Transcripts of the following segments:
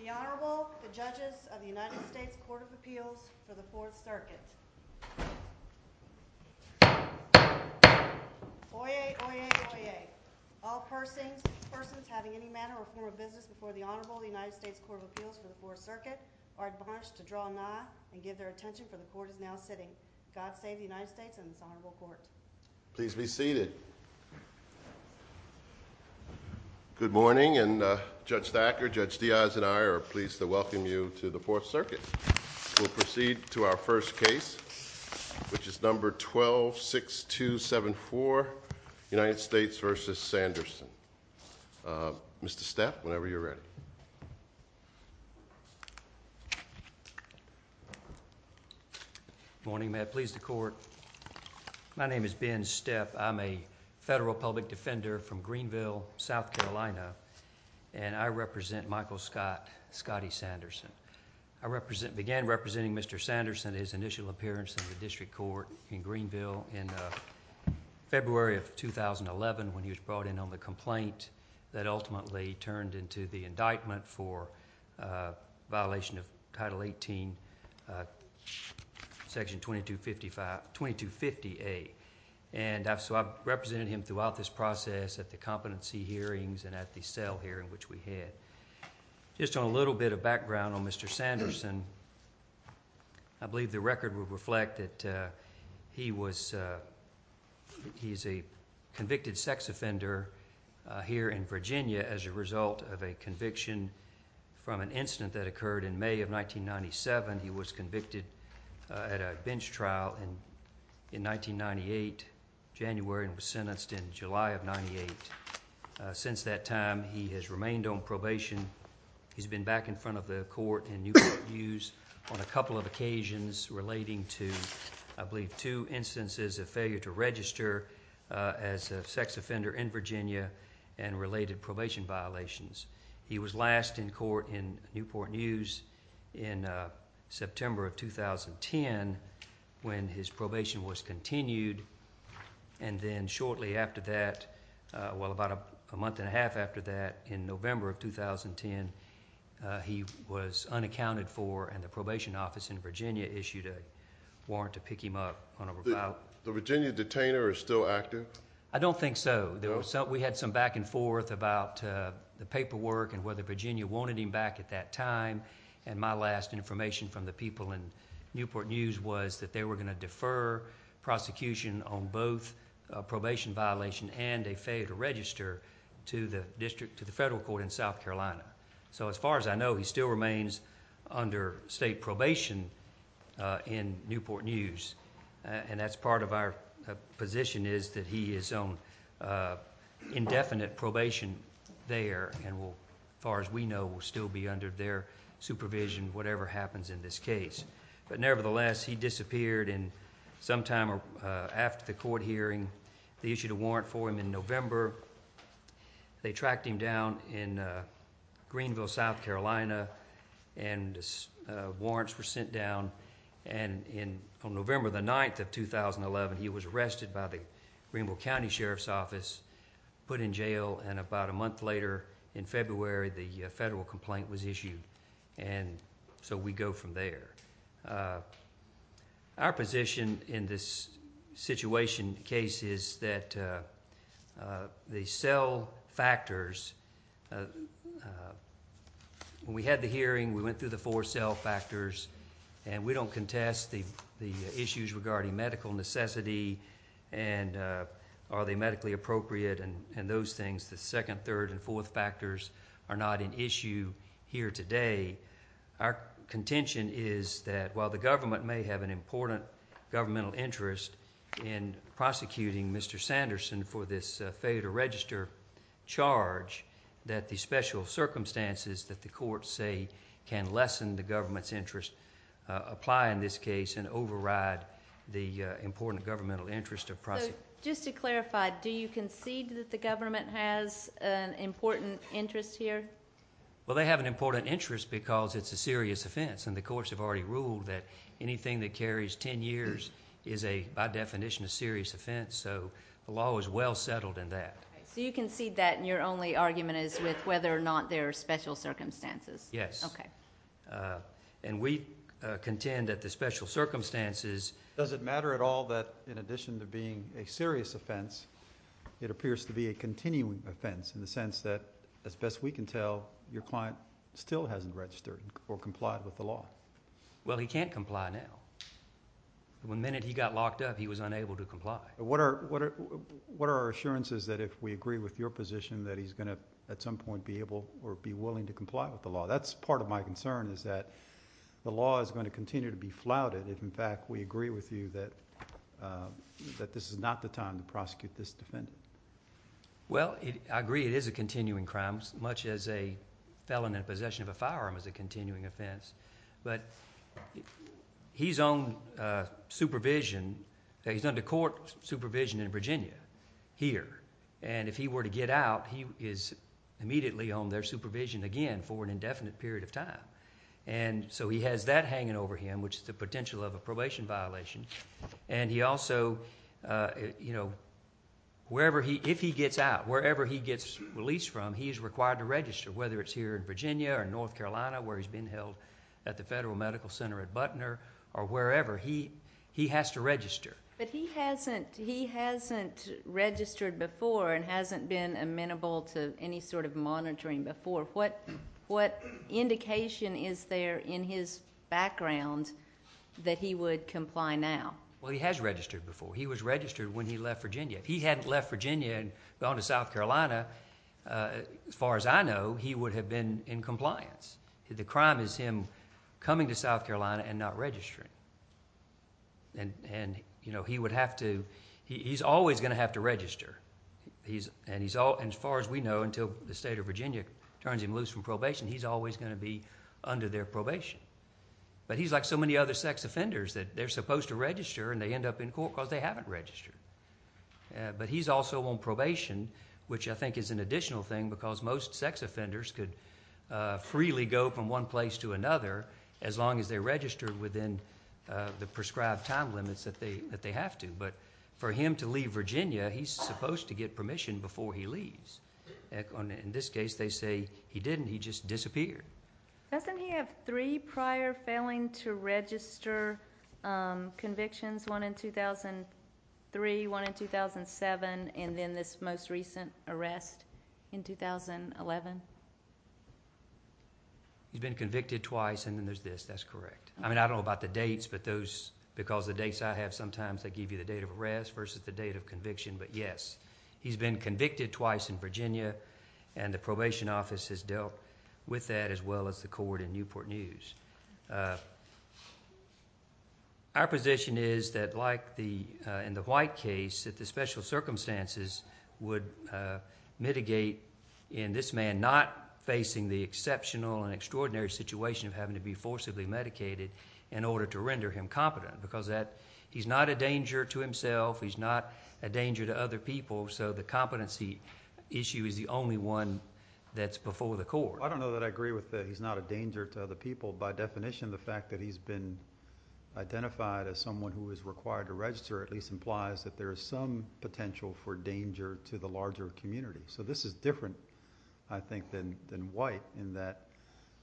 The Honorable, the Judges of the United States Court of Appeals for the 4th Circuit. Oyez, oyez, oyez. All persons having any matter or form of business before the Honorable of the United States Court of Appeals for the 4th Circuit are advised to draw a nod and give their attention for the Court is now sitting. God save the United States and this Honorable Court. Please be seated. Good morning, and Judge Thacker, Judge Diaz, and I are pleased to welcome you to the 4th Circuit. We'll proceed to our first case, which is number 12-6274, United States v. Sanderson. Mr. Steph, whenever you're ready. Good morning. May it please the Court. My name is Ben Steph. I'm a federal public defender from Greenville, South Carolina, and I represent Michael Scott Scottie Sanderson. I began representing Mr. Sanderson at his initial appearance in the district court in Greenville in February of 2011 when he was brought in on the complaint that ultimately turned into the indictment for violation of Title 18, Section 2250A. I've represented him throughout this process at the competency hearings and at the cell hearing, which we had. Just on a little bit of background on Mr. Sanderson, I believe the record will reflect that he's a convicted sex offender here in Virginia as a result of a conviction from an incident that occurred in May of 1997. He was convicted at a bench trial in 1998, January, and was sentenced in July of 1998. Since that time, he has remained on probation. He's been back in front of the court in Newport News on a couple of occasions relating to, I believe, two instances of failure to register as a sex offender in Virginia and related probation violations. He was last in court in Newport News in September of 2010 when his probation was continued, and then shortly after that, well, about a month and a half after that, in November of 2010, he was unaccounted for, and the probation office in Virginia issued a warrant to pick him up on a robot. The Virginia detainer is still active? I don't think so. We had some back and forth about the paperwork and whether Virginia wanted him back at that time, and my last information from the people in Newport News was that they were going to defer prosecution on both a probation violation and a failure to register to the federal court in South Carolina. So as far as I know, he still remains under state probation in Newport News, and that's part of our position is that he is on indefinite probation there and will, as far as we know, will still be under their supervision, whatever happens in this case. But nevertheless, he disappeared, and sometime after the court hearing, they issued a warrant for him in November. They tracked him down in Greenville, South Carolina, and warrants were sent down, and on November the 9th of 2011, he was arrested by the Greenville County Sheriff's Office, put in jail, and about a month later in February, the federal complaint was issued, and so we go from there. Our position in this situation case is that the cell factors—when we had the hearing, we went through the four cell factors, and we don't contest the issues regarding medical necessity and are they medically appropriate and those things. The second, third, and fourth factors are not an issue here today. Our contention is that while the government may have an important governmental interest in prosecuting Mr. Sanderson for this failure to register charge, that the special circumstances that the courts say can lessen the government's interest apply in this case and override the important governmental interest of prosecution. Just to clarify, do you concede that the government has an important interest here? Well, they have an important interest because it's a serious offense, and the courts have already ruled that anything that carries 10 years is by definition a serious offense, so the law is well settled in that. So you concede that, and your only argument is with whether or not there are special circumstances? Yes. Okay. And we contend that the special circumstances— it appears to be a continuing offense in the sense that, as best we can tell, your client still hasn't registered or complied with the law. Well, he can't comply now. The minute he got locked up, he was unable to comply. What are our assurances that if we agree with your position that he's going to at some point be able or be willing to comply with the law? That's part of my concern is that the law is going to continue to be flouted if, in fact, we agree with you that this is not the time to prosecute this defendant. Well, I agree it is a continuing crime, much as a felon in possession of a firearm is a continuing offense. But he's on supervision—he's under court supervision in Virginia here, and if he were to get out, he is immediately on their supervision again for an indefinite period of time. And so he has that hanging over him, which is the potential of a probation violation. And he also, you know, wherever he—if he gets out, wherever he gets released from, he is required to register, whether it's here in Virginia or in North Carolina where he's been held at the Federal Medical Center at Butner or wherever. He has to register. But he hasn't registered before and hasn't been amenable to any sort of monitoring before. What indication is there in his background that he would comply now? Well, he has registered before. He was registered when he left Virginia. If he hadn't left Virginia and gone to South Carolina, as far as I know, he would have been in compliance. The crime is him coming to South Carolina and not registering. And, you know, he would have to—he's always going to have to register. And as far as we know, until the state of Virginia turns him loose from probation, he's always going to be under their probation. But he's like so many other sex offenders that they're supposed to register and they end up in court because they haven't registered. But he's also on probation, which I think is an additional thing because most sex offenders could freely go from one place to another as long as they're registered within the prescribed time limits that they have to. But for him to leave Virginia, he's supposed to get permission before he leaves. In this case, they say he didn't. He just disappeared. Doesn't he have three prior failing to register convictions? One in 2003, one in 2007, and then this most recent arrest in 2011? He's been convicted twice, and then there's this. That's correct. I mean, I don't know about the dates, but those—because the dates I have sometimes, they give you the date of arrest versus the date of conviction. But, yes, he's been convicted twice in Virginia, and the probation office has dealt with that as well as the court in Newport News. Our position is that, like in the White case, that the special circumstances would mitigate in this man and not facing the exceptional and extraordinary situation of having to be forcibly medicated in order to render him competent because he's not a danger to himself, he's not a danger to other people, so the competency issue is the only one that's before the court. I don't know that I agree with that he's not a danger to other people. By definition, the fact that he's been identified as someone who is required to register at least implies that there is some potential for danger to the larger community. So this is different, I think, than White in that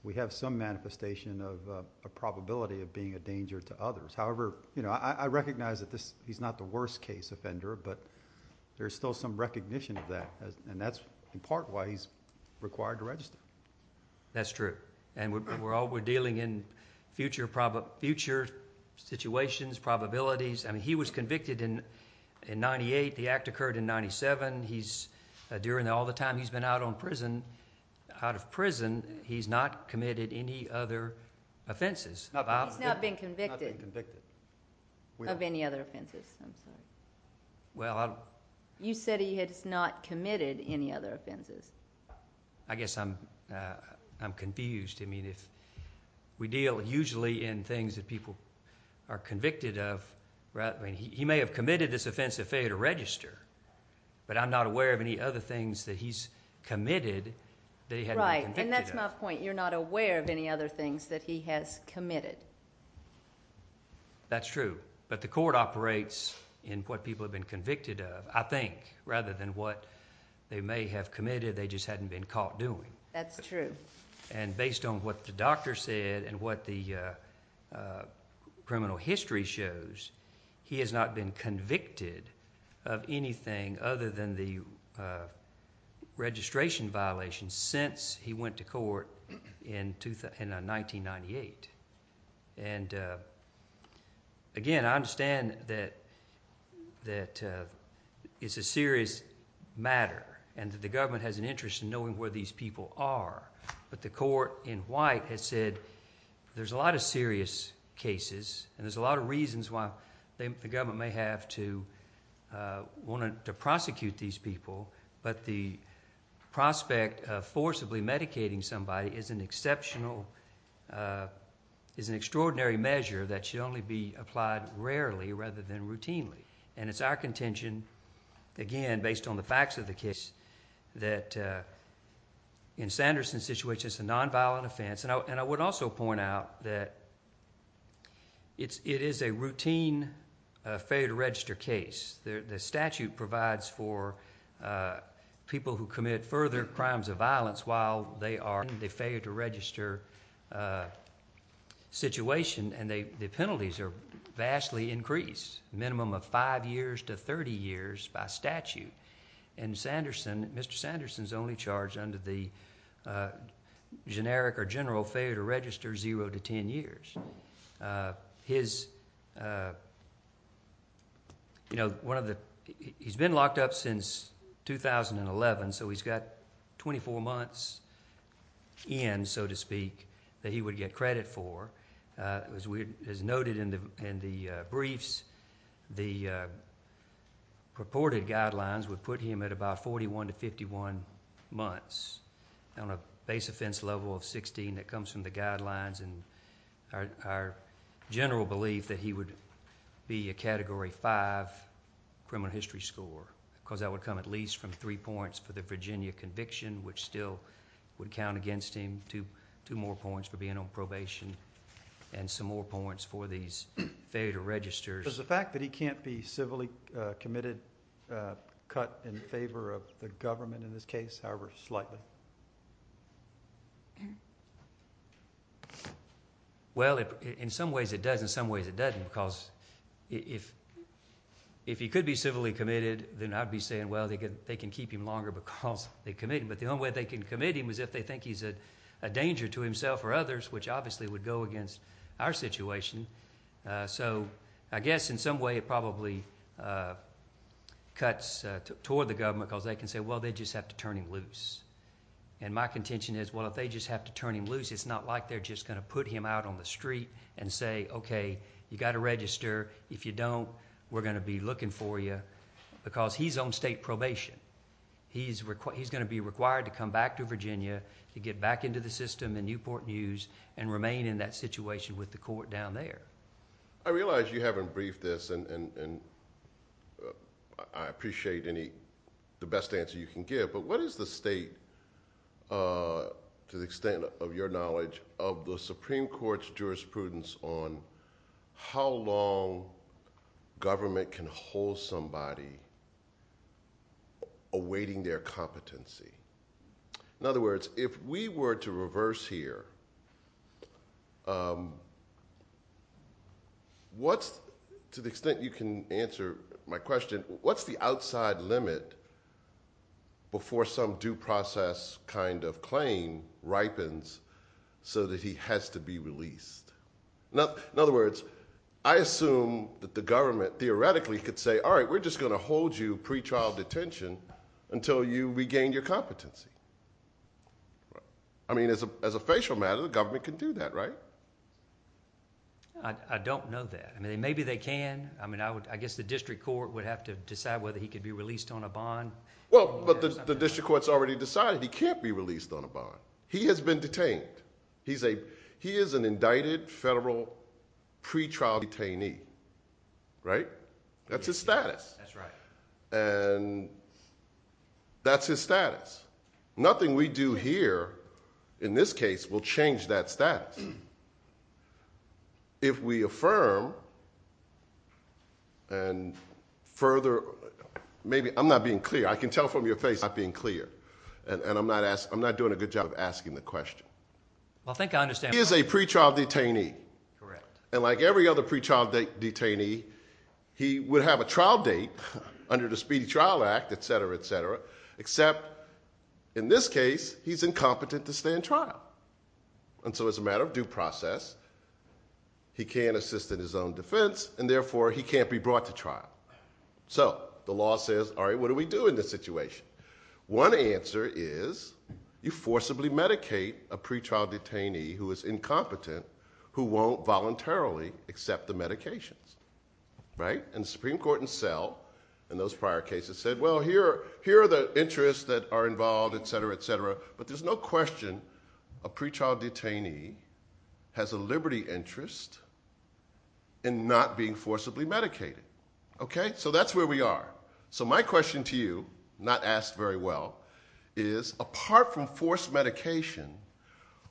we have some manifestation of a probability of being a danger to others. However, I recognize that he's not the worst case offender, but there's still some recognition of that, and that's in part why he's required to register. That's true, and we're dealing in future situations, probabilities. He was convicted in 1998, the act occurred in 1997. During all the time he's been out of prison, he's not committed any other offenses. He's not been convicted of any other offenses. You said he has not committed any other offenses. I guess I'm confused. We deal usually in things that people are convicted of. He may have committed this offensive failure to register, but I'm not aware of any other things that he's committed that he hasn't been convicted of. Right, and that's my point. You're not aware of any other things that he has committed. That's true, but the court operates in what people have been convicted of, I think, rather than what they may have committed, they just hadn't been caught doing. That's true. Based on what the doctor said and what the criminal history shows, he has not been convicted of anything other than the registration violations since he went to court in 1998. Again, I understand that it's a serious matter and that the government has an interest in knowing where these people are, but the court in white has said there's a lot of serious cases and there's a lot of reasons why the government may have to prosecute these people, but the prospect of forcibly medicating somebody is an extraordinary measure that should only be applied rarely rather than routinely. It's our contention, again, based on the facts of the case, that in Sanderson's situation, it's a nonviolent offense. I would also point out that it is a routine failure to register case. The statute provides for people who commit further crimes of violence while they are in the failure to register situation, and the penalties are vastly increased, a minimum of five years to 30 years by statute. In Sanderson, Mr. Sanderson's only charge under the generic or general failure to register is zero to ten years. He's been locked up since 2011, so he's got 24 months in, so to speak, that he would get credit for. As noted in the briefs, the purported guidelines would put him at about 41 to 51 months on a base offense level of 16. That comes from the guidelines and our general belief that he would be a Category 5 criminal history score, because that would come at least from three points for the Virginia conviction, which still would count against him, two more points for being on probation, and some more points for these failure to register. Does the fact that he can't be civilly committed cut in favor of the government in this case, however slightly? Well, in some ways it does, in some ways it doesn't, because if he could be civilly committed, then I'd be saying, well, they can keep him longer because they committed him. But the only way they can commit him is if they think he's a danger to himself or others, which obviously would go against our situation. So I guess in some way it probably cuts toward the government because they can say, well, they just have to turn him loose. And my contention is, well, if they just have to turn him loose, it's not like they're just going to put him out on the street and say, okay, you've got to register. If you don't, we're going to be looking for you, because he's on state probation. He's going to be required to come back to Virginia to get back into the system in Newport News and remain in that situation with the court down there. I realize you haven't briefed this, and I appreciate the best answer you can give, but what is the state, to the extent of your knowledge, of the Supreme Court's jurisprudence on how long government can hold somebody awaiting their competency? In other words, if we were to reverse here, to the extent you can answer my question, what's the outside limit before some due process kind of claim ripens so that he has to be released? In other words, I assume that the government theoretically could say, all right, we're just going to hold you pretrial detention until you regain your competency. I mean, as a facial matter, the government can do that, right? I don't know that. I mean, maybe they can. I mean, I guess the district court would have to decide whether he could be released on a bond. Well, but the district court's already decided he can't be released on a bond. He has been detained. He is an indicted federal pretrial detainee, right? That's his status. That's right. And that's his status. Nothing we do here, in this case, will change that status. If we affirm and further, maybe I'm not being clear. I can tell from your face I'm not being clear, and I'm not doing a good job of asking the question. Well, I think I understand. He is a pretrial detainee. Correct. And like every other pretrial detainee, he would have a trial date under the Speedy Trial Act, et cetera, et cetera, except in this case he's incompetent to stay in trial. And so it's a matter of due process. He can't assist in his own defense, and therefore he can't be brought to trial. So the law says, all right, what do we do in this situation? One answer is you forcibly medicate a pretrial detainee who is incompetent, who won't voluntarily accept the medications. Right? And the Supreme Court itself in those prior cases said, well, here are the interests that are involved, et cetera, et cetera. But there's no question a pretrial detainee has a liberty interest in not being forcibly medicated. Okay? So that's where we are. So my question to you, not asked very well, is apart from forced medication,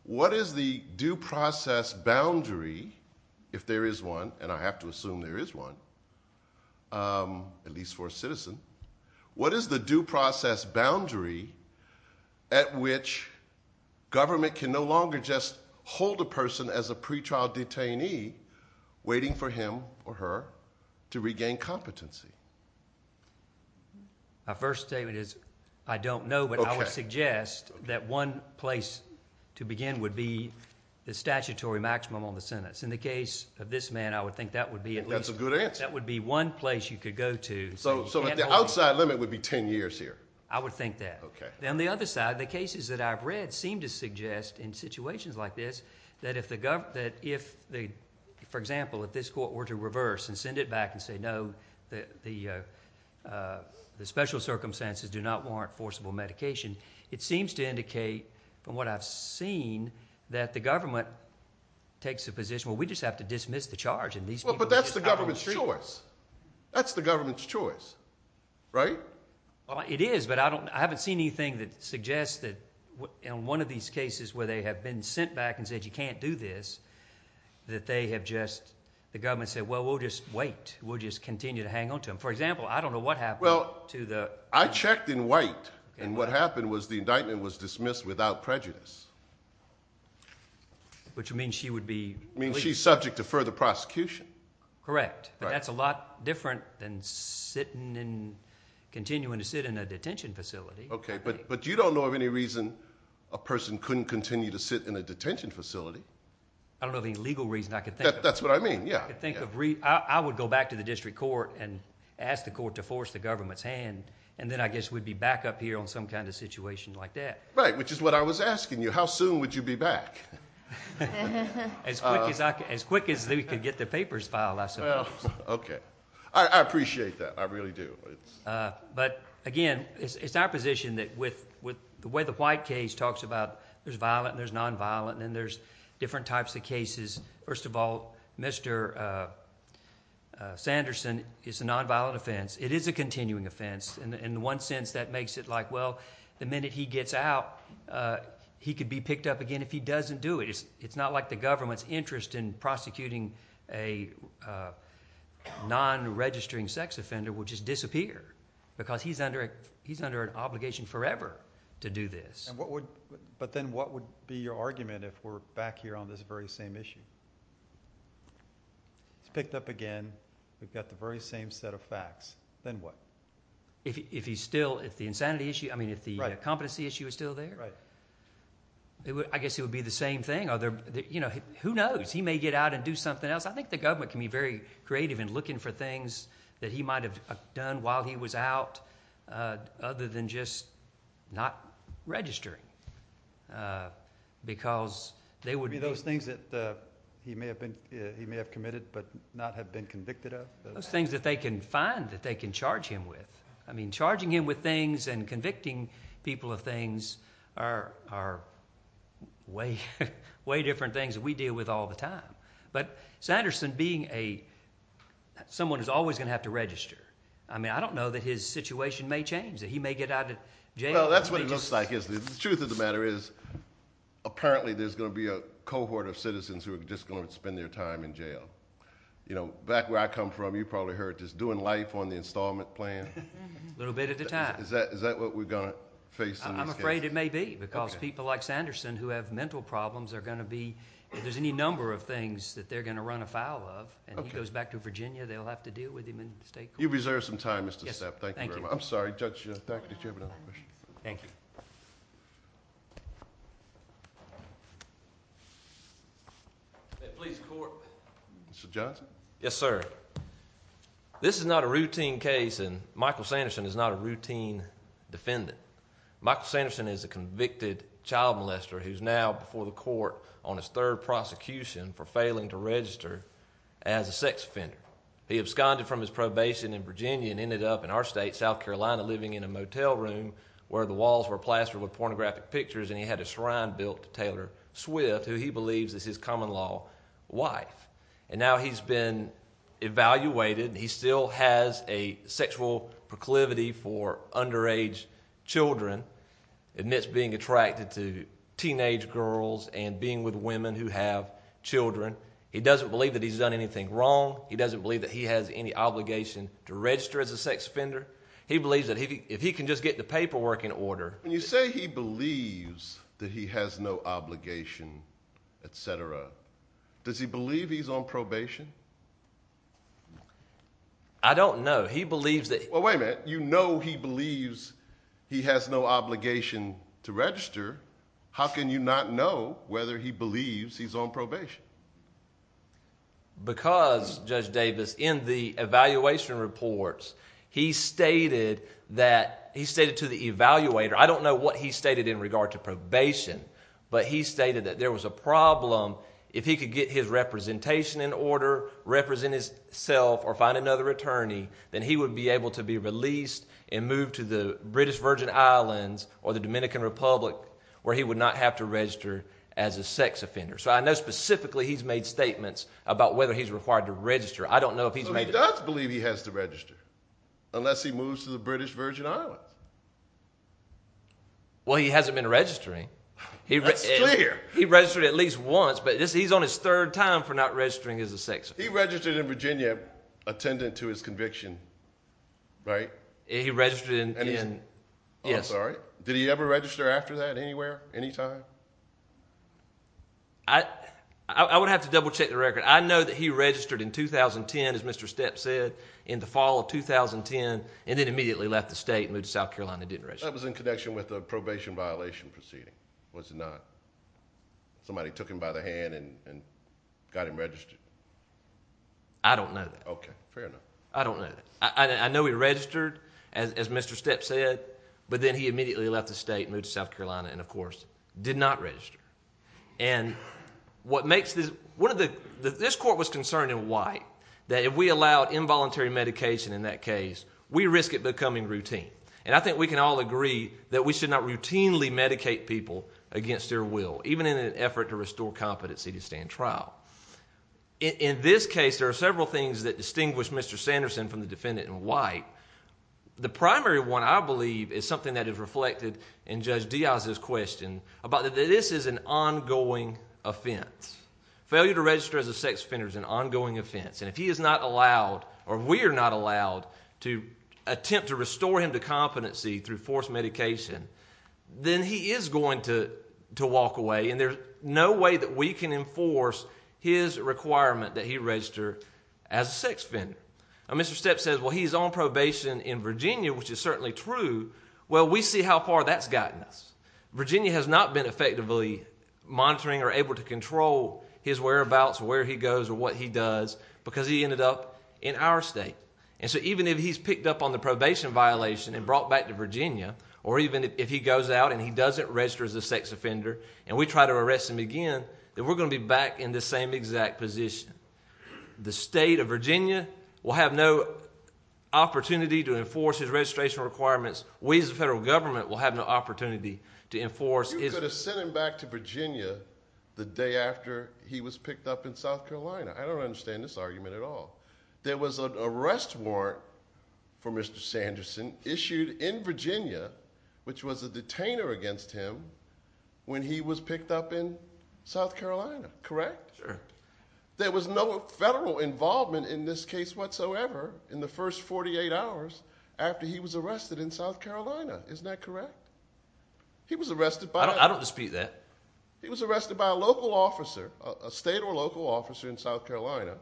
what is the due process boundary, if there is one, and I have to assume there is one, at least for a citizen, what is the due process boundary at which government can no longer just hold a person as a pretrial detainee, waiting for him or her to regain competency? My first statement is I don't know, but I would suggest that one place to begin would be the statutory maximum on the sentence. In the case of this man, I would think that would be at least. That's a good answer. That would be one place you could go to. So the outside limit would be 10 years here? I would think that. Okay. On the other side, the cases that I've read seem to suggest in situations like this that if, for example, if this court were to reverse and send it back and say, no, the special circumstances do not warrant forcible medication, it seems to indicate, from what I've seen, that the government takes the position, well, we just have to dismiss the charge. But that's the government's choice. That's the government's choice. Right? Well, it is, but I haven't seen anything that suggests that in one of these cases where they have been sent back and said, you can't do this, that they have just, the government said, well, we'll just wait. We'll just continue to hang on to him. For example, I don't know what happened to the. Well, I checked and wait, and what happened was the indictment was dismissed without prejudice. Which means she would be. Means she's subject to further prosecution. Correct. Right. That's a lot different than sitting and continuing to sit in a detention facility. Okay, but you don't know of any reason a person couldn't continue to sit in a detention facility. I don't know of any legal reason I could think of. That's what I mean, yeah. I would go back to the district court and ask the court to force the government's hand, and then I guess we'd be back up here on some kind of situation like that. Right, which is what I was asking you. How soon would you be back? As quick as we could get the papers filed, I suppose. Okay. I appreciate that. I really do. But, again, it's our position that with the way the white case talks about there's violent and there's nonviolent, and there's different types of cases. First of all, Mr. Sanderson is a nonviolent offense. It is a continuing offense. In one sense, that makes it like, well, the minute he gets out, he could be picked up again. If he doesn't do it, it's not like the government's interest in prosecuting a non-registering sex offender will just disappear because he's under an obligation forever to do this. But then what would be your argument if we're back here on this very same issue? He's picked up again. We've got the very same set of facts. Then what? If he's still, if the insanity issue, I mean if the competency issue is still there? Right. I guess it would be the same thing. Who knows? He may get out and do something else. I think the government can be very creative in looking for things that he might have done while he was out, other than just not registering because they would be. You mean those things that he may have committed but not have been convicted of? Those things that they can find, that they can charge him with. Charging him with things and convicting people of things are way different things that we deal with all the time. But Sanderson being someone who's always going to have to register, I don't know that his situation may change, that he may get out of jail. Well, that's what it looks like, isn't it? The truth of the matter is apparently there's going to be a cohort of citizens who are just going to spend their time in jail. Back where I come from, you probably heard this, doing life on the installment plan. A little bit at a time. Is that what we're going to face in this case? I'm afraid it may be because people like Sanderson who have mental problems are going to be... if there's any number of things that they're going to run afoul of and he goes back to Virginia, they'll have to deal with him in state court. You've reserved some time, Mr. Stepp. Thank you very much. I'm sorry, Judge, did you have another question? Thank you. May it please the Court. Mr. Johnson? Yes, sir. This is not a routine case and Michael Sanderson is not a routine defendant. Michael Sanderson is a convicted child molester who's now before the court on his third prosecution for failing to register as a sex offender. He absconded from his probation in Virginia and ended up in our state, South Carolina, living in a motel room where the walls were up. There were plastered with pornographic pictures and he had a shrine built to Taylor Swift, who he believes is his common-law wife. And now he's been evaluated and he still has a sexual proclivity for underage children amidst being attracted to teenage girls and being with women who have children. He doesn't believe that he's done anything wrong. He doesn't believe that he has any obligation to register as a sex offender. He believes that if he can just get the paperwork in order— When you say he believes that he has no obligation, etc., does he believe he's on probation? I don't know. He believes that— Well, wait a minute. You know he believes he has no obligation to register. How can you not know whether he believes he's on probation? Because, Judge Davis, in the evaluation reports, he stated that—he stated to the evaluator—I don't know what he stated in regard to probation, but he stated that there was a problem if he could get his representation in order, represent himself, or find another attorney, then he would be able to be released and moved to the British Virgin Islands or the Dominican Republic where he would not have to register as a sex offender. So I know specifically he's made statements about whether he's required to register. I don't know if he's made— So he does believe he has to register unless he moves to the British Virgin Islands. Well, he hasn't been registering. That's clear. He registered at least once, but he's on his third time for not registering as a sex offender. He registered in Virginia attendant to his conviction, right? He registered in— Oh, I'm sorry. Did he ever register after that anywhere, anytime? I would have to double-check the record. I know that he registered in 2010, as Mr. Stepp said, in the fall of 2010, and then immediately left the state and moved to South Carolina and didn't register. That was in connection with a probation violation proceeding, was it not? Somebody took him by the hand and got him registered? I don't know that. Okay, fair enough. I don't know that. I know he registered, as Mr. Stepp said, but then he immediately left the state and moved to South Carolina, and, of course, did not register. And what makes this—this court was concerned in White that if we allowed involuntary medication in that case, we risk it becoming routine. And I think we can all agree that we should not routinely medicate people against their will, even in an effort to restore competency to stand trial. In this case, there are several things that distinguish Mr. Sanderson from the defendant in White. The primary one, I believe, is something that is reflected in Judge Diaz's question about that this is an ongoing offense. Failure to register as a sex offender is an ongoing offense. And if he is not allowed, or we are not allowed, to attempt to restore him to competency through forced medication, then he is going to walk away, and there's no way that we can enforce his requirement that he register as a sex offender. Now, Mr. Stepp says, well, he's on probation in Virginia, which is certainly true. Well, we see how far that's gotten us. Virginia has not been effectively monitoring or able to control his whereabouts, where he goes, or what he does, because he ended up in our state. And so even if he's picked up on the probation violation and brought back to Virginia, or even if he goes out and he doesn't register as a sex offender and we try to arrest him again, then we're going to be back in the same exact position. The state of Virginia will have no opportunity to enforce his registration requirements. We as the federal government will have no opportunity to enforce his. You could have sent him back to Virginia the day after he was picked up in South Carolina. I don't understand this argument at all. There was an arrest warrant for Mr. Sanderson issued in Virginia, which was a detainer against him, when he was picked up in South Carolina, correct? Sure. There was no federal involvement in this case whatsoever in the first 48 hours after he was arrested in South Carolina. Isn't that correct? I don't dispute that. He was arrested by a local officer, a state or local officer in South Carolina,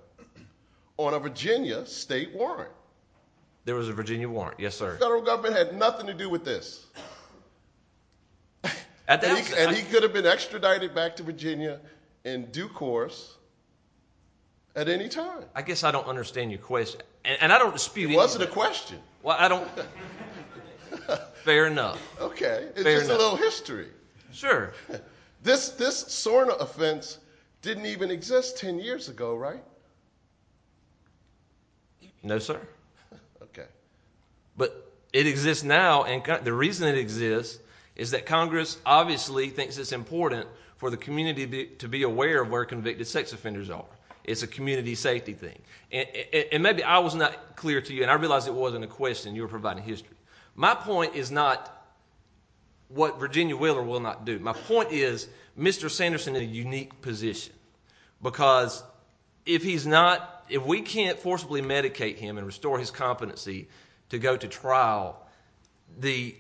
on a Virginia state warrant. There was a Virginia warrant, yes sir. The federal government had nothing to do with this. He could have been extradited back to Virginia in due course at any time. I guess I don't understand your question. It wasn't a question. Fair enough. It's just a little history. Sure. This SORNA offense didn't even exist 10 years ago, right? No, sir. It exists now. The reason it exists is that Congress obviously thinks it's important for the community to be aware of where convicted sex offenders are. It's a community safety thing. Maybe I was not clear to you, and I realized it wasn't a question. You were providing history. My point is not what Virginia will or will not do. My point is Mr. Sanderson is in a unique position. If we can't forcibly medicate him and restore his competency to go to trial, the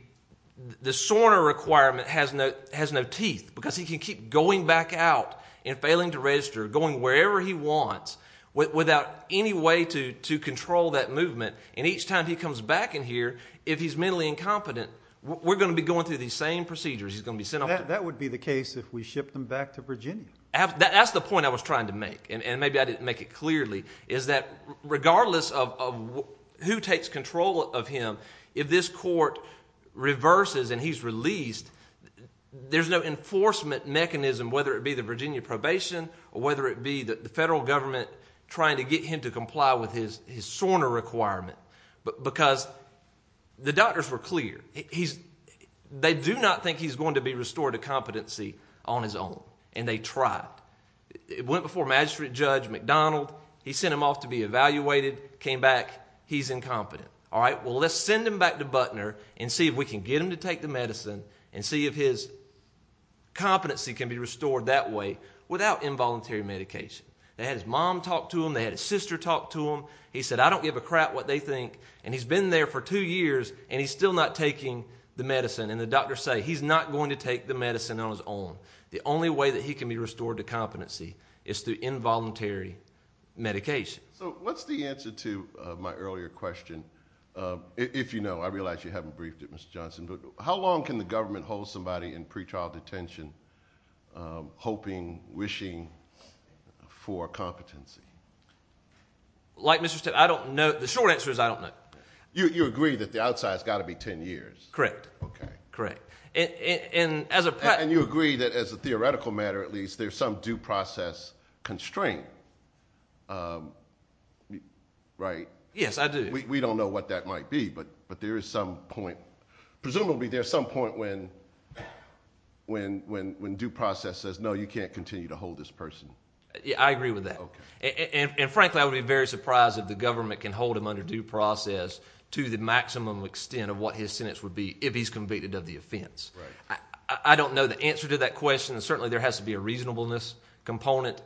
SORNA requirement has no teeth. He can keep going back out and failing to register, going wherever he wants, without any way to control that movement. Each time he comes back in here, if he's mentally incompetent, we're going to be going through these same procedures. That would be the case if we shipped him back to Virginia. That's the point I was trying to make, and maybe I didn't make it clearly, is that regardless of who takes control of him, if this court reverses and he's released, there's no enforcement mechanism, whether it be the Virginia probation or whether it be the federal government trying to get him to comply with his SORNA requirement, because the doctors were clear. They do not think he's going to be restored to competency on his own, and they tried. It went before Magistrate Judge McDonald. He sent him off to be evaluated, came back. He's incompetent. All right, well, let's send him back to Butner and see if we can get him to take the medicine and see if his competency can be restored that way without involuntary medication. They had his mom talk to him. They had his sister talk to him. He said, I don't give a crap what they think. And he's been there for two years, and he's still not taking the medicine. And the doctors say he's not going to take the medicine on his own. The only way that he can be restored to competency is through involuntary medication. So what's the answer to my earlier question? If you know, I realize you haven't briefed it, Mr. Johnson, but how long can the government hold somebody in pretrial detention hoping, wishing for competency? Like Mr. Stitt, I don't know. The short answer is I don't know. You agree that the outside has got to be ten years? Correct. Okay. Correct. And as a practical— And you agree that as a theoretical matter, at least, there's some due process constraint, right? Yes, I do. We don't know what that might be, but there is some point. Presumably there's some point when due process says, no, you can't continue to hold this person. I agree with that. Okay. And frankly, I would be very surprised if the government can hold him under due process to the maximum extent of what his sentence would be if he's convicted of the offense. Right. I don't know the answer to that question. Certainly there has to be a reasonableness component.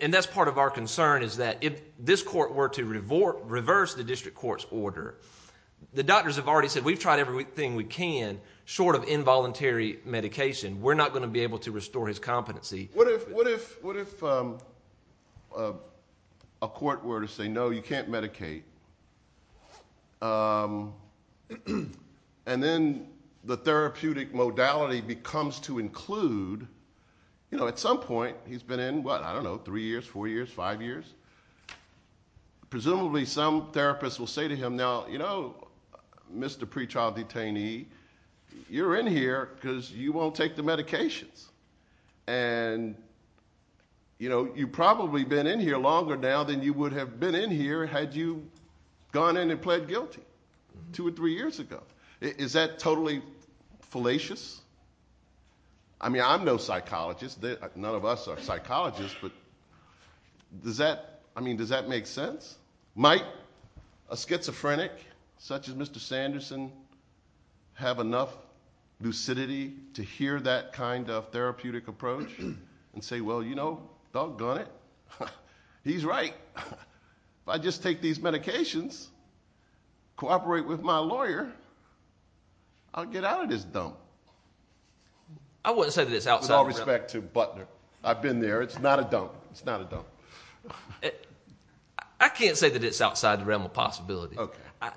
And that's part of our concern is that if this court were to reverse the district court's order, the doctors have already said we've tried everything we can short of involuntary medication. We're not going to be able to restore his competency. What if a court were to say, no, you can't medicate, and then the therapeutic modality becomes to include—at some point he's been in, what, I don't know, three years, four years, five years. Presumably some therapist will say to him, now, you know, Mr. Pre-Trial Detainee, you're in here because you won't take the medications. And, you know, you've probably been in here longer now than you would have been in here had you gone in and pled guilty two or three years ago. Is that totally fallacious? I mean, I'm no psychologist. None of us are psychologists, but does that—I mean, does that make sense? Might a schizophrenic such as Mr. Sanderson have enough lucidity to hear that kind of therapeutic approach and say, well, you know, doggone it, he's right. If I just take these medications, cooperate with my lawyer, I'll get out of this dump. I wouldn't say that it's outside the realm. With all respect to Butler, I've been there. It's not a dump. I can't say that it's outside the realm of possibility. And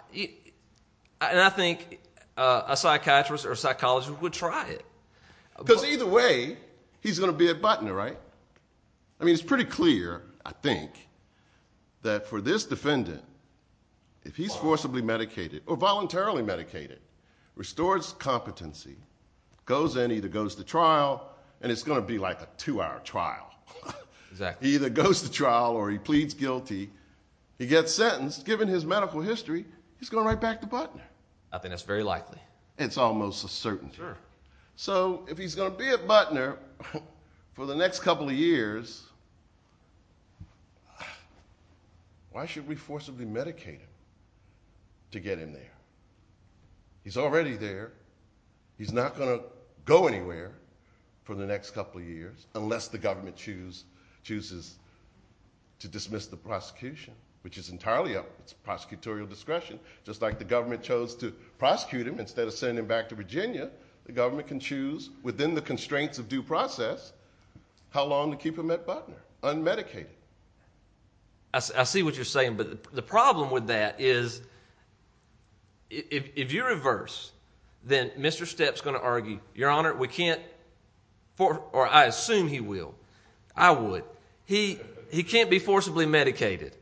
I think a psychiatrist or a psychologist would try it. Because either way, he's going to be at Butler, right? I mean, it's pretty clear, I think, that for this defendant, if he's forcibly medicated or voluntarily medicated, restores competency, goes in, either goes to trial, and it's going to be like a two-hour trial. Exactly. He either goes to trial or he pleads guilty. He gets sentenced. Given his medical history, he's going right back to Butler. I think that's very likely. It's almost a certainty. Sure. So if he's going to be at Butler for the next couple of years, why should we forcibly medicate him to get him there? He's already there. He's not going to go anywhere for the next couple of years unless the government chooses to dismiss the prosecution, which is entirely up to prosecutorial discretion. Just like the government chose to prosecute him instead of sending him back to Virginia, the government can choose, within the constraints of due process, how long to keep him at Butler, unmedicated. I see what you're saying. But the problem with that is if you reverse, then Mr. Steps is going to argue, Your Honor, we can't, or I assume he will. I would. He can't be forcibly medicated.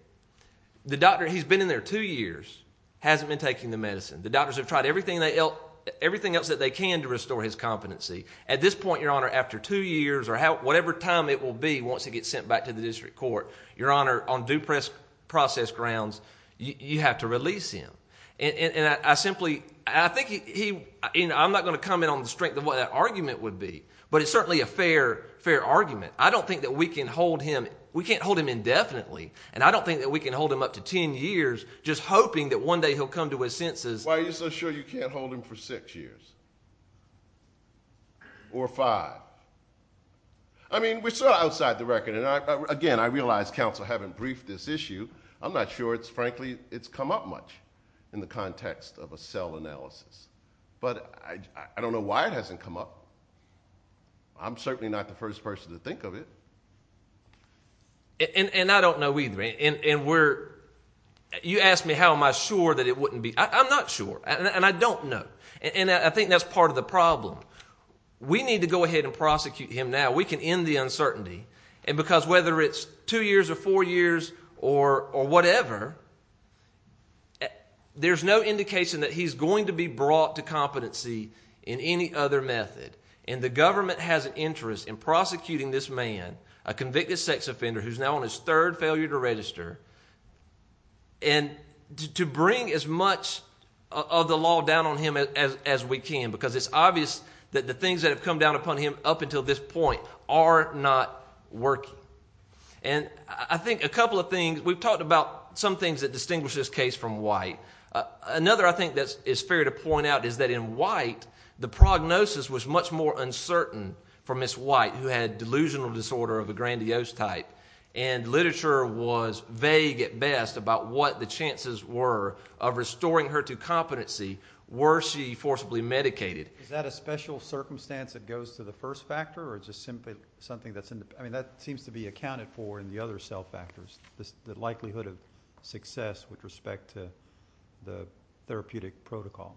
The doctor, he's been in there two years, hasn't been taking the medicine. The doctors have tried everything else that they can to restore his competency. At this point, Your Honor, after two years or whatever time it will be once he gets sent back to the district court, Your Honor, on due process grounds, you have to release him. I'm not going to comment on the strength of what that argument would be, but it's certainly a fair argument. I don't think that we can hold him indefinitely, and I don't think that we can hold him up to ten years just hoping that one day he'll come to his senses. Why are you so sure you can't hold him for six years? Or five? I mean, we're still outside the record. Again, I realize counsel haven't briefed this issue. I'm not sure, frankly, it's come up much in the context of a cell analysis. But I don't know why it hasn't come up. I'm certainly not the first person to think of it. And I don't know either. You asked me how am I sure that it wouldn't be. I'm not sure, and I don't know. And I think that's part of the problem. We need to go ahead and prosecute him now. We can end the uncertainty. And because whether it's two years or four years or whatever, there's no indication that he's going to be brought to competency in any other method. And the government has an interest in prosecuting this man, a convicted sex offender who's now on his third failure to register, and to bring as much of the law down on him as we can because it's obvious that the things that have come down upon him up until this point are not working. And I think a couple of things, we've talked about some things that distinguish this case from White. Another, I think, that is fair to point out is that in White, the prognosis was much more uncertain for Ms. White, who had delusional disorder of a grandiose type, and literature was vague at best about what the chances were of restoring her to competency were she forcibly medicated. Is that a special circumstance that goes to the first factor, or is it simply something that's independent? I mean, that seems to be accounted for in the other cell factors, the likelihood of success with respect to the therapeutic protocol.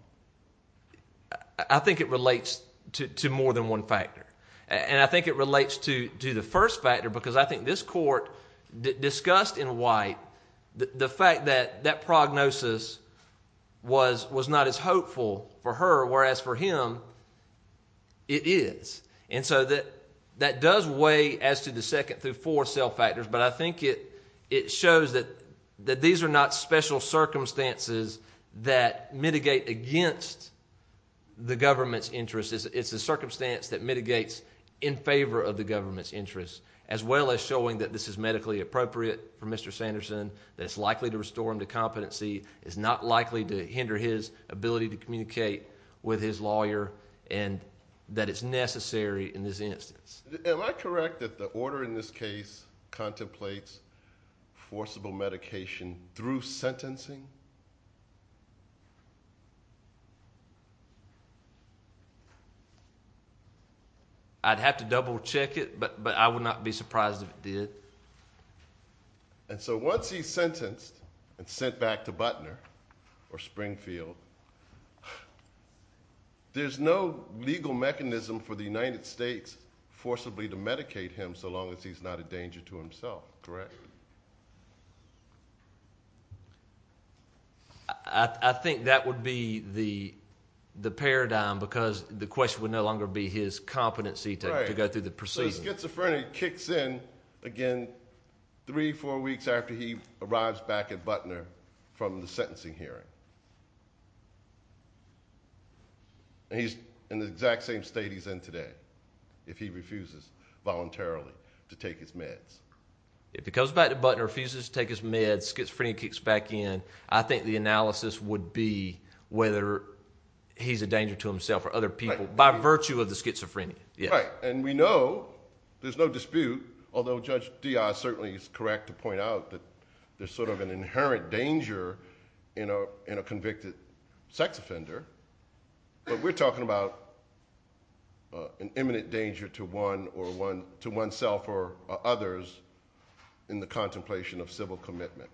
I think it relates to more than one factor. And I think it relates to the first factor because I think this court discussed in White the fact that that prognosis was not as hopeful for her, whereas for him it is. And so that does weigh as to the second through fourth cell factors, but I think it shows that these are not special circumstances that mitigate against the government's interests. It's a circumstance that mitigates in favor of the government's interests, as well as showing that this is medically appropriate for Mr. Sanderson, that it's likely to restore him to competency, it's not likely to hinder his ability to communicate with his lawyer, and that it's necessary in this instance. Am I correct that the order in this case contemplates forcible medication through sentencing? I'd have to double-check it, but I would not be surprised if it did. And so once he's sentenced and sent back to Butner or Springfield, there's no legal mechanism for the United States forcibly to medicate him so long as he's not a danger to himself, correct? Correct. I think that would be the paradigm, because the question would no longer be his competency to go through the proceedings. Right, so the schizophrenia kicks in again three, four weeks after he arrives back at Butner from the sentencing hearing. And he's in the exact same state he's in today if he refuses voluntarily to take his meds. If he comes back to Butner, refuses to take his meds, schizophrenia kicks back in, I think the analysis would be whether he's a danger to himself or other people by virtue of the schizophrenia. Right, and we know there's no dispute, although Judge Diaz certainly is correct to point out that there's sort of an inherent danger in a convicted sex offender, but we're talking about an imminent danger to oneself or others in the contemplation of civil commitment.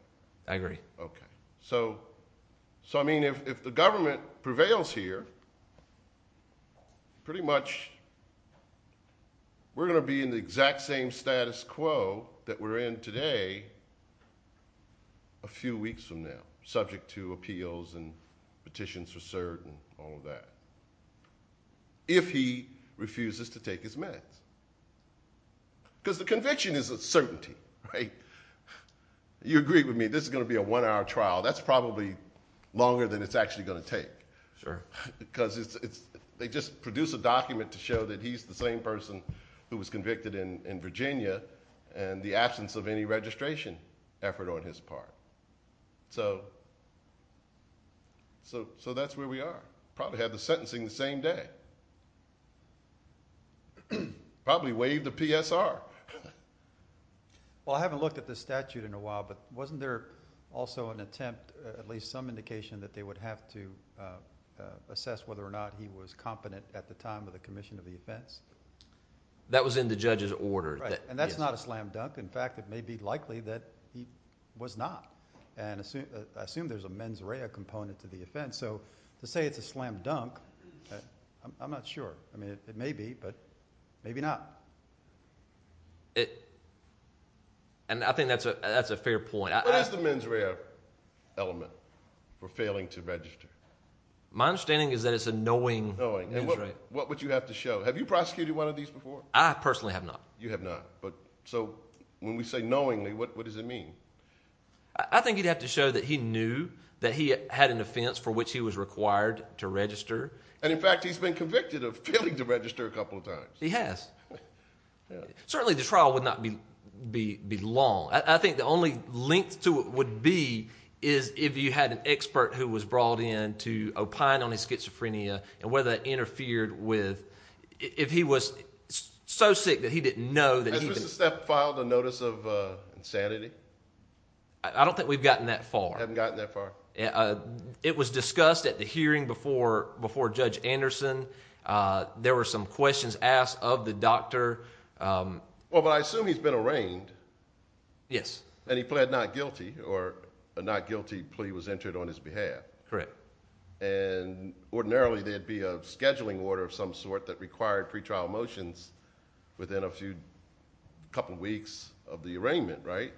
I agree. Okay, so I mean if the government prevails here, pretty much we're going to be in the exact same status quo that we're in today a few weeks from now, subject to appeals and petitions for cert and all of that, if he refuses to take his meds. Because the conviction is a certainty, right? You agree with me, this is going to be a one-hour trial. That's probably longer than it's actually going to take. Sure. Because they just produce a document to show that he's the same person who was convicted in Virginia and the absence of any registration effort on his part. So that's where we are. Probably have the sentencing the same day. Probably waive the PSR. Well, I haven't looked at this statute in a while, but wasn't there also an attempt, at least some indication, that they would have to assess whether or not he was competent at the time of the commission of the offense? That was in the judge's order. Right, and that's not a slam dunk. In fact, it may be likely that he was not. And I assume there's a mens rea component to the offense. So to say it's a slam dunk, I'm not sure. I mean, it may be, but maybe not. And I think that's a fair point. What is the mens rea element for failing to register? My understanding is that it's a knowing mens rea. What would you have to show? Have you prosecuted one of these before? I personally have not. You have not. So when we say knowingly, what does it mean? I think you'd have to show that he knew that he had an offense for which he was required to register. And, in fact, he's been convicted of failing to register a couple of times. He has. Certainly the trial would not be long. I think the only length to it would be if you had an expert who was brought in to opine on his schizophrenia and whether that interfered with if he was so sick that he didn't know Has Mr. Stepp filed a notice of insanity? I don't think we've gotten that far. You haven't gotten that far? It was discussed at the hearing before Judge Anderson. There were some questions asked of the doctor. Well, but I assume he's been arraigned. Yes. And he pled not guilty, or a not guilty plea was entered on his behalf. Correct. And ordinarily there'd be a scheduling order of some sort that required pretrial motions within a couple weeks of the arraignment, right?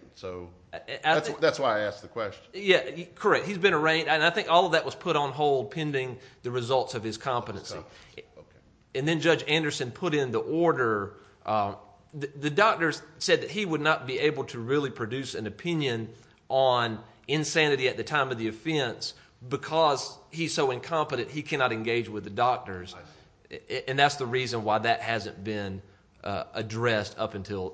That's why I asked the question. Correct. He's been arraigned, and I think all of that was put on hold pending the results of his competency. And then Judge Anderson put in the order. The doctor said that he would not be able to really produce an opinion on insanity at the time of the offense because he's so incompetent he cannot engage with the doctors. And that's the reason why that hasn't been addressed up until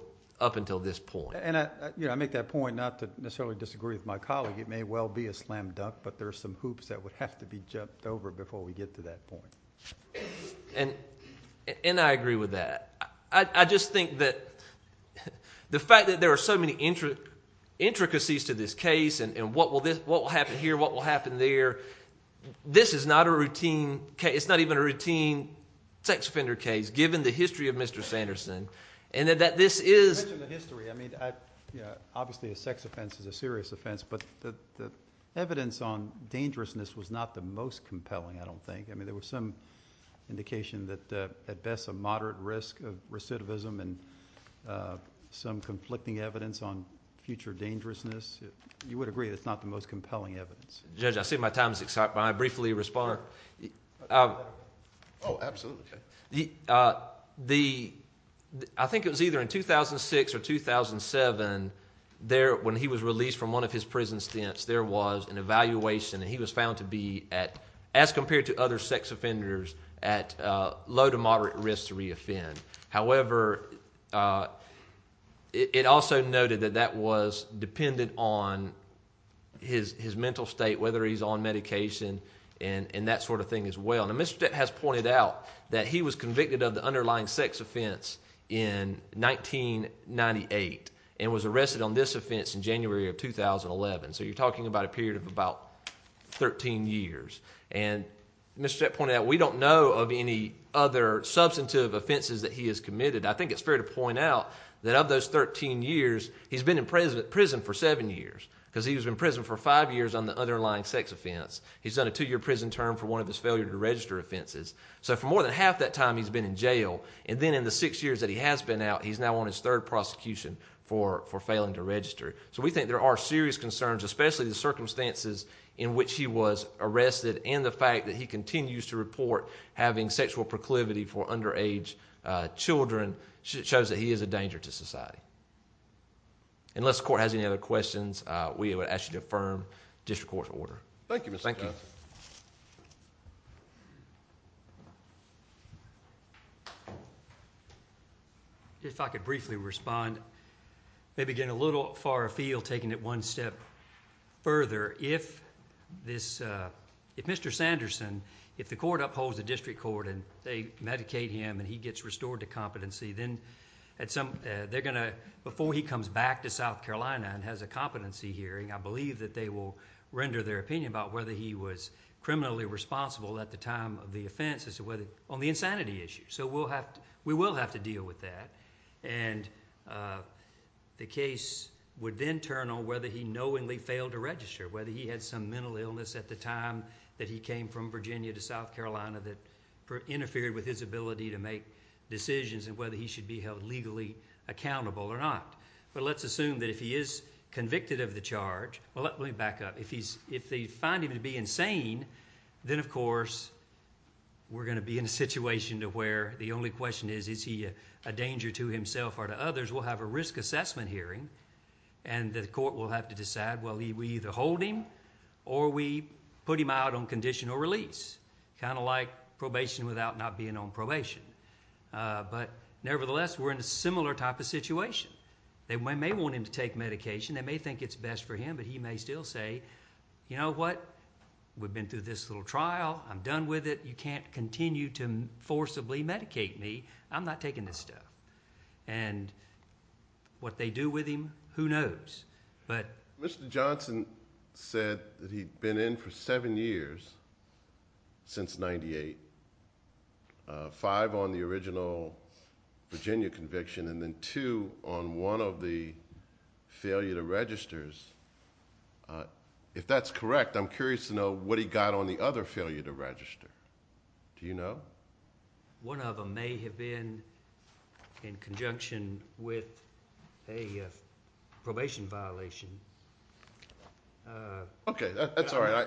this point. And I make that point not to necessarily disagree with my colleague. It may well be a slam dunk, but there are some hoops that would have to be jumped over before we get to that point. And I agree with that. I just think that the fact that there are so many intricacies to this case and what will happen here, what will happen there, this is not a routine case. It's not even a routine sex offender case given the history of Mr. Sanderson. And that this is... You mentioned the history. I mean, obviously a sex offense is a serious offense, but the evidence on dangerousness was not the most compelling, I don't think. I mean, there was some indication that at best a moderate risk of recidivism and some conflicting evidence on future dangerousness. You would agree it's not the most compelling evidence. Judge, I see my time has expired, but I'll briefly respond. Oh, absolutely. I think it was either in 2006 or 2007, when he was released from one of his prison stints, there was an evaluation and he was found to be, as compared to other sex offenders, at low to moderate risk to reoffend. However, it also noted that that was dependent on his mental state, whether he's on medication and that sort of thing as well. Now Mr. Jett has pointed out that he was convicted of the underlying sex offense in 1998 and was arrested on this offense in January of 2011. So you're talking about a period of about 13 years. Mr. Jett pointed out we don't know of any other substantive offenses that he has committed. I think it's fair to point out that of those 13 years, he's been in prison for seven years because he was in prison for five years on the underlying sex offense. He's done a two-year prison term for one of his failure to register offenses. So for more than half that time he's been in jail, and then in the six years that he has been out, he's now on his third prosecution for failing to register. So we think there are serious concerns, especially the circumstances in which he was arrested and the fact that he continues to report having sexual proclivity for underage children, shows that he is a danger to society. Unless the court has any other questions, we would ask you to affirm district court's order. Thank you, Mr. Jett. Thank you. Thank you. If I could briefly respond, maybe getting a little far afield, taking it one step further. If Mr. Sanderson, if the court upholds the district court and they medicate him and he gets restored to competency, then before he comes back to South Carolina and has a competency hearing, I believe that they will render their opinion about whether he was criminally responsible at the time of the offense on the insanity issue. So we will have to deal with that. And the case would then turn on whether he knowingly failed to register, whether he had some mental illness at the time that he came from Virginia to South Carolina that interfered with his ability to make decisions and whether he should be held legally accountable or not. But let's assume that if he is convicted of the charge, well, let me back up. If they find him to be insane, then, of course, we're going to be in a situation to where the only question is, is he a danger to himself or to others? We'll have a risk assessment hearing, and the court will have to decide, well, we either hold him or we put him out on conditional release, kind of like probation without not being on probation. But nevertheless, we're in a similar type of situation. They may want him to take medication. They may think it's best for him, but he may still say, you know what? We've been through this little trial. I'm done with it. You can't continue to forcibly medicate me. I'm not taking this stuff. And what they do with him, who knows? Mr. Johnson said that he'd been in for seven years since 1998, five on the original Virginia conviction, and then two on one of the failure to registers. If that's correct, I'm curious to know what he got on the other failure to register. Do you know? One of them may have been in conjunction with a probation violation. Okay, that's all right.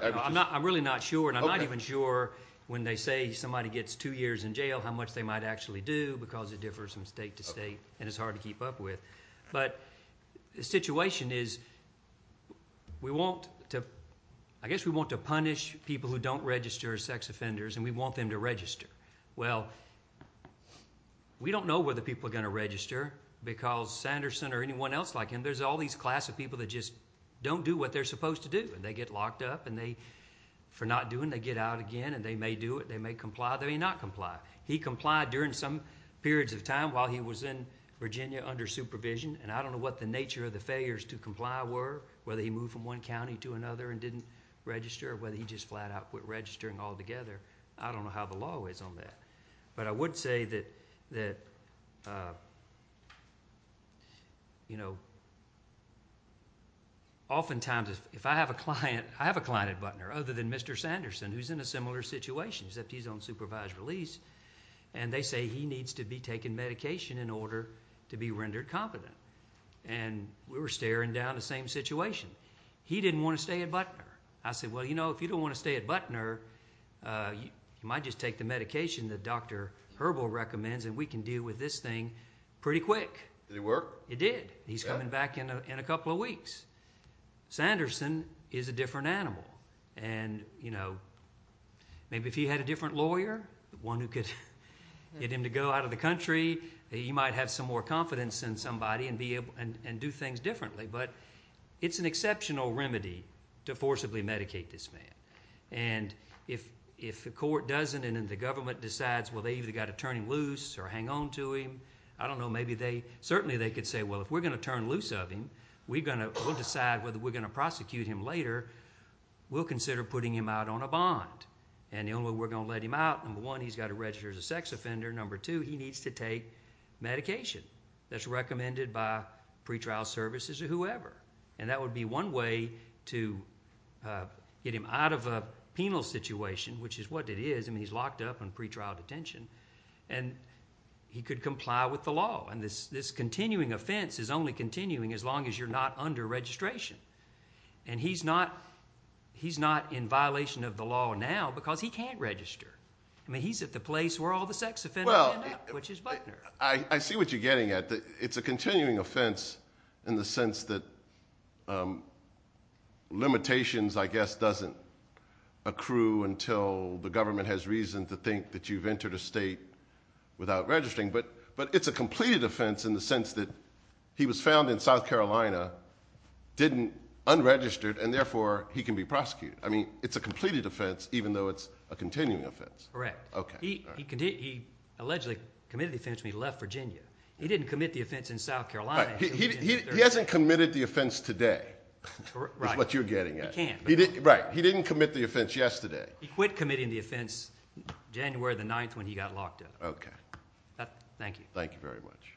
I'm really not sure, and I'm not even sure when they say somebody gets two years in jail how much they might actually do because it differs from state to state and it's hard to keep up with. But the situation is we want to punish people who don't register as sex offenders, and we want them to register. Well, we don't know whether people are going to register because Sanderson or anyone else like him, there's all these class of people that just don't do what they're supposed to do. They get locked up, and for not doing, they get out again, and they may do it. They may comply. They may not comply. He complied during some periods of time while he was in Virginia under supervision, and I don't know what the nature of the failures to comply were, whether he moved from one county to another and didn't register, or whether he just flat out quit registering altogether. I don't know how the law is on that. But I would say that, you know, oftentimes if I have a client, I have a client at Butner other than Mr. Sanderson who's in a similar situation, except he's on supervised release, and they say he needs to be taking medication in order to be rendered competent. And we were staring down the same situation. He didn't want to stay at Butner. I said, well, you know, if you don't want to stay at Butner, you might just take the medication that Dr. Herbal recommends, and we can deal with this thing pretty quick. Did it work? It did. He's coming back in a couple of weeks. Sanderson is a different animal. And, you know, maybe if he had a different lawyer, one who could get him to go out of the country, he might have some more confidence in somebody and do things differently. But it's an exceptional remedy to forcibly medicate this man. And if the court doesn't and the government decides, well, they've either got to turn him loose or hang on to him, I don't know, maybe they certainly could say, well, if we're going to turn loose of him, and we're going to decide whether we're going to prosecute him later, we'll consider putting him out on a bond. And the only way we're going to let him out, number one, he's got to register as a sex offender, number two, he needs to take medication that's recommended by pretrial services or whoever. And that would be one way to get him out of a penal situation, which is what it is. I mean, he's locked up in pretrial detention. And he could comply with the law. And this continuing offense is only continuing as long as you're not under registration. And he's not in violation of the law now because he can't register. I mean, he's at the place where all the sex offenders end up, which is Butner. I see what you're getting at. It's a continuing offense in the sense that limitations, I guess, doesn't accrue until the government has reason to think that you've entered a state without registering. But it's a completed offense in the sense that he was found in South Carolina unregistered, and therefore he can be prosecuted. I mean, it's a completed offense even though it's a continuing offense. Correct. He allegedly committed the offense when he left Virginia. He didn't commit the offense in South Carolina. He hasn't committed the offense today is what you're getting at. He can. Right. He didn't commit the offense yesterday. He quit committing the offense January 9th when he got locked up. Okay. Thank you. Thank you very much.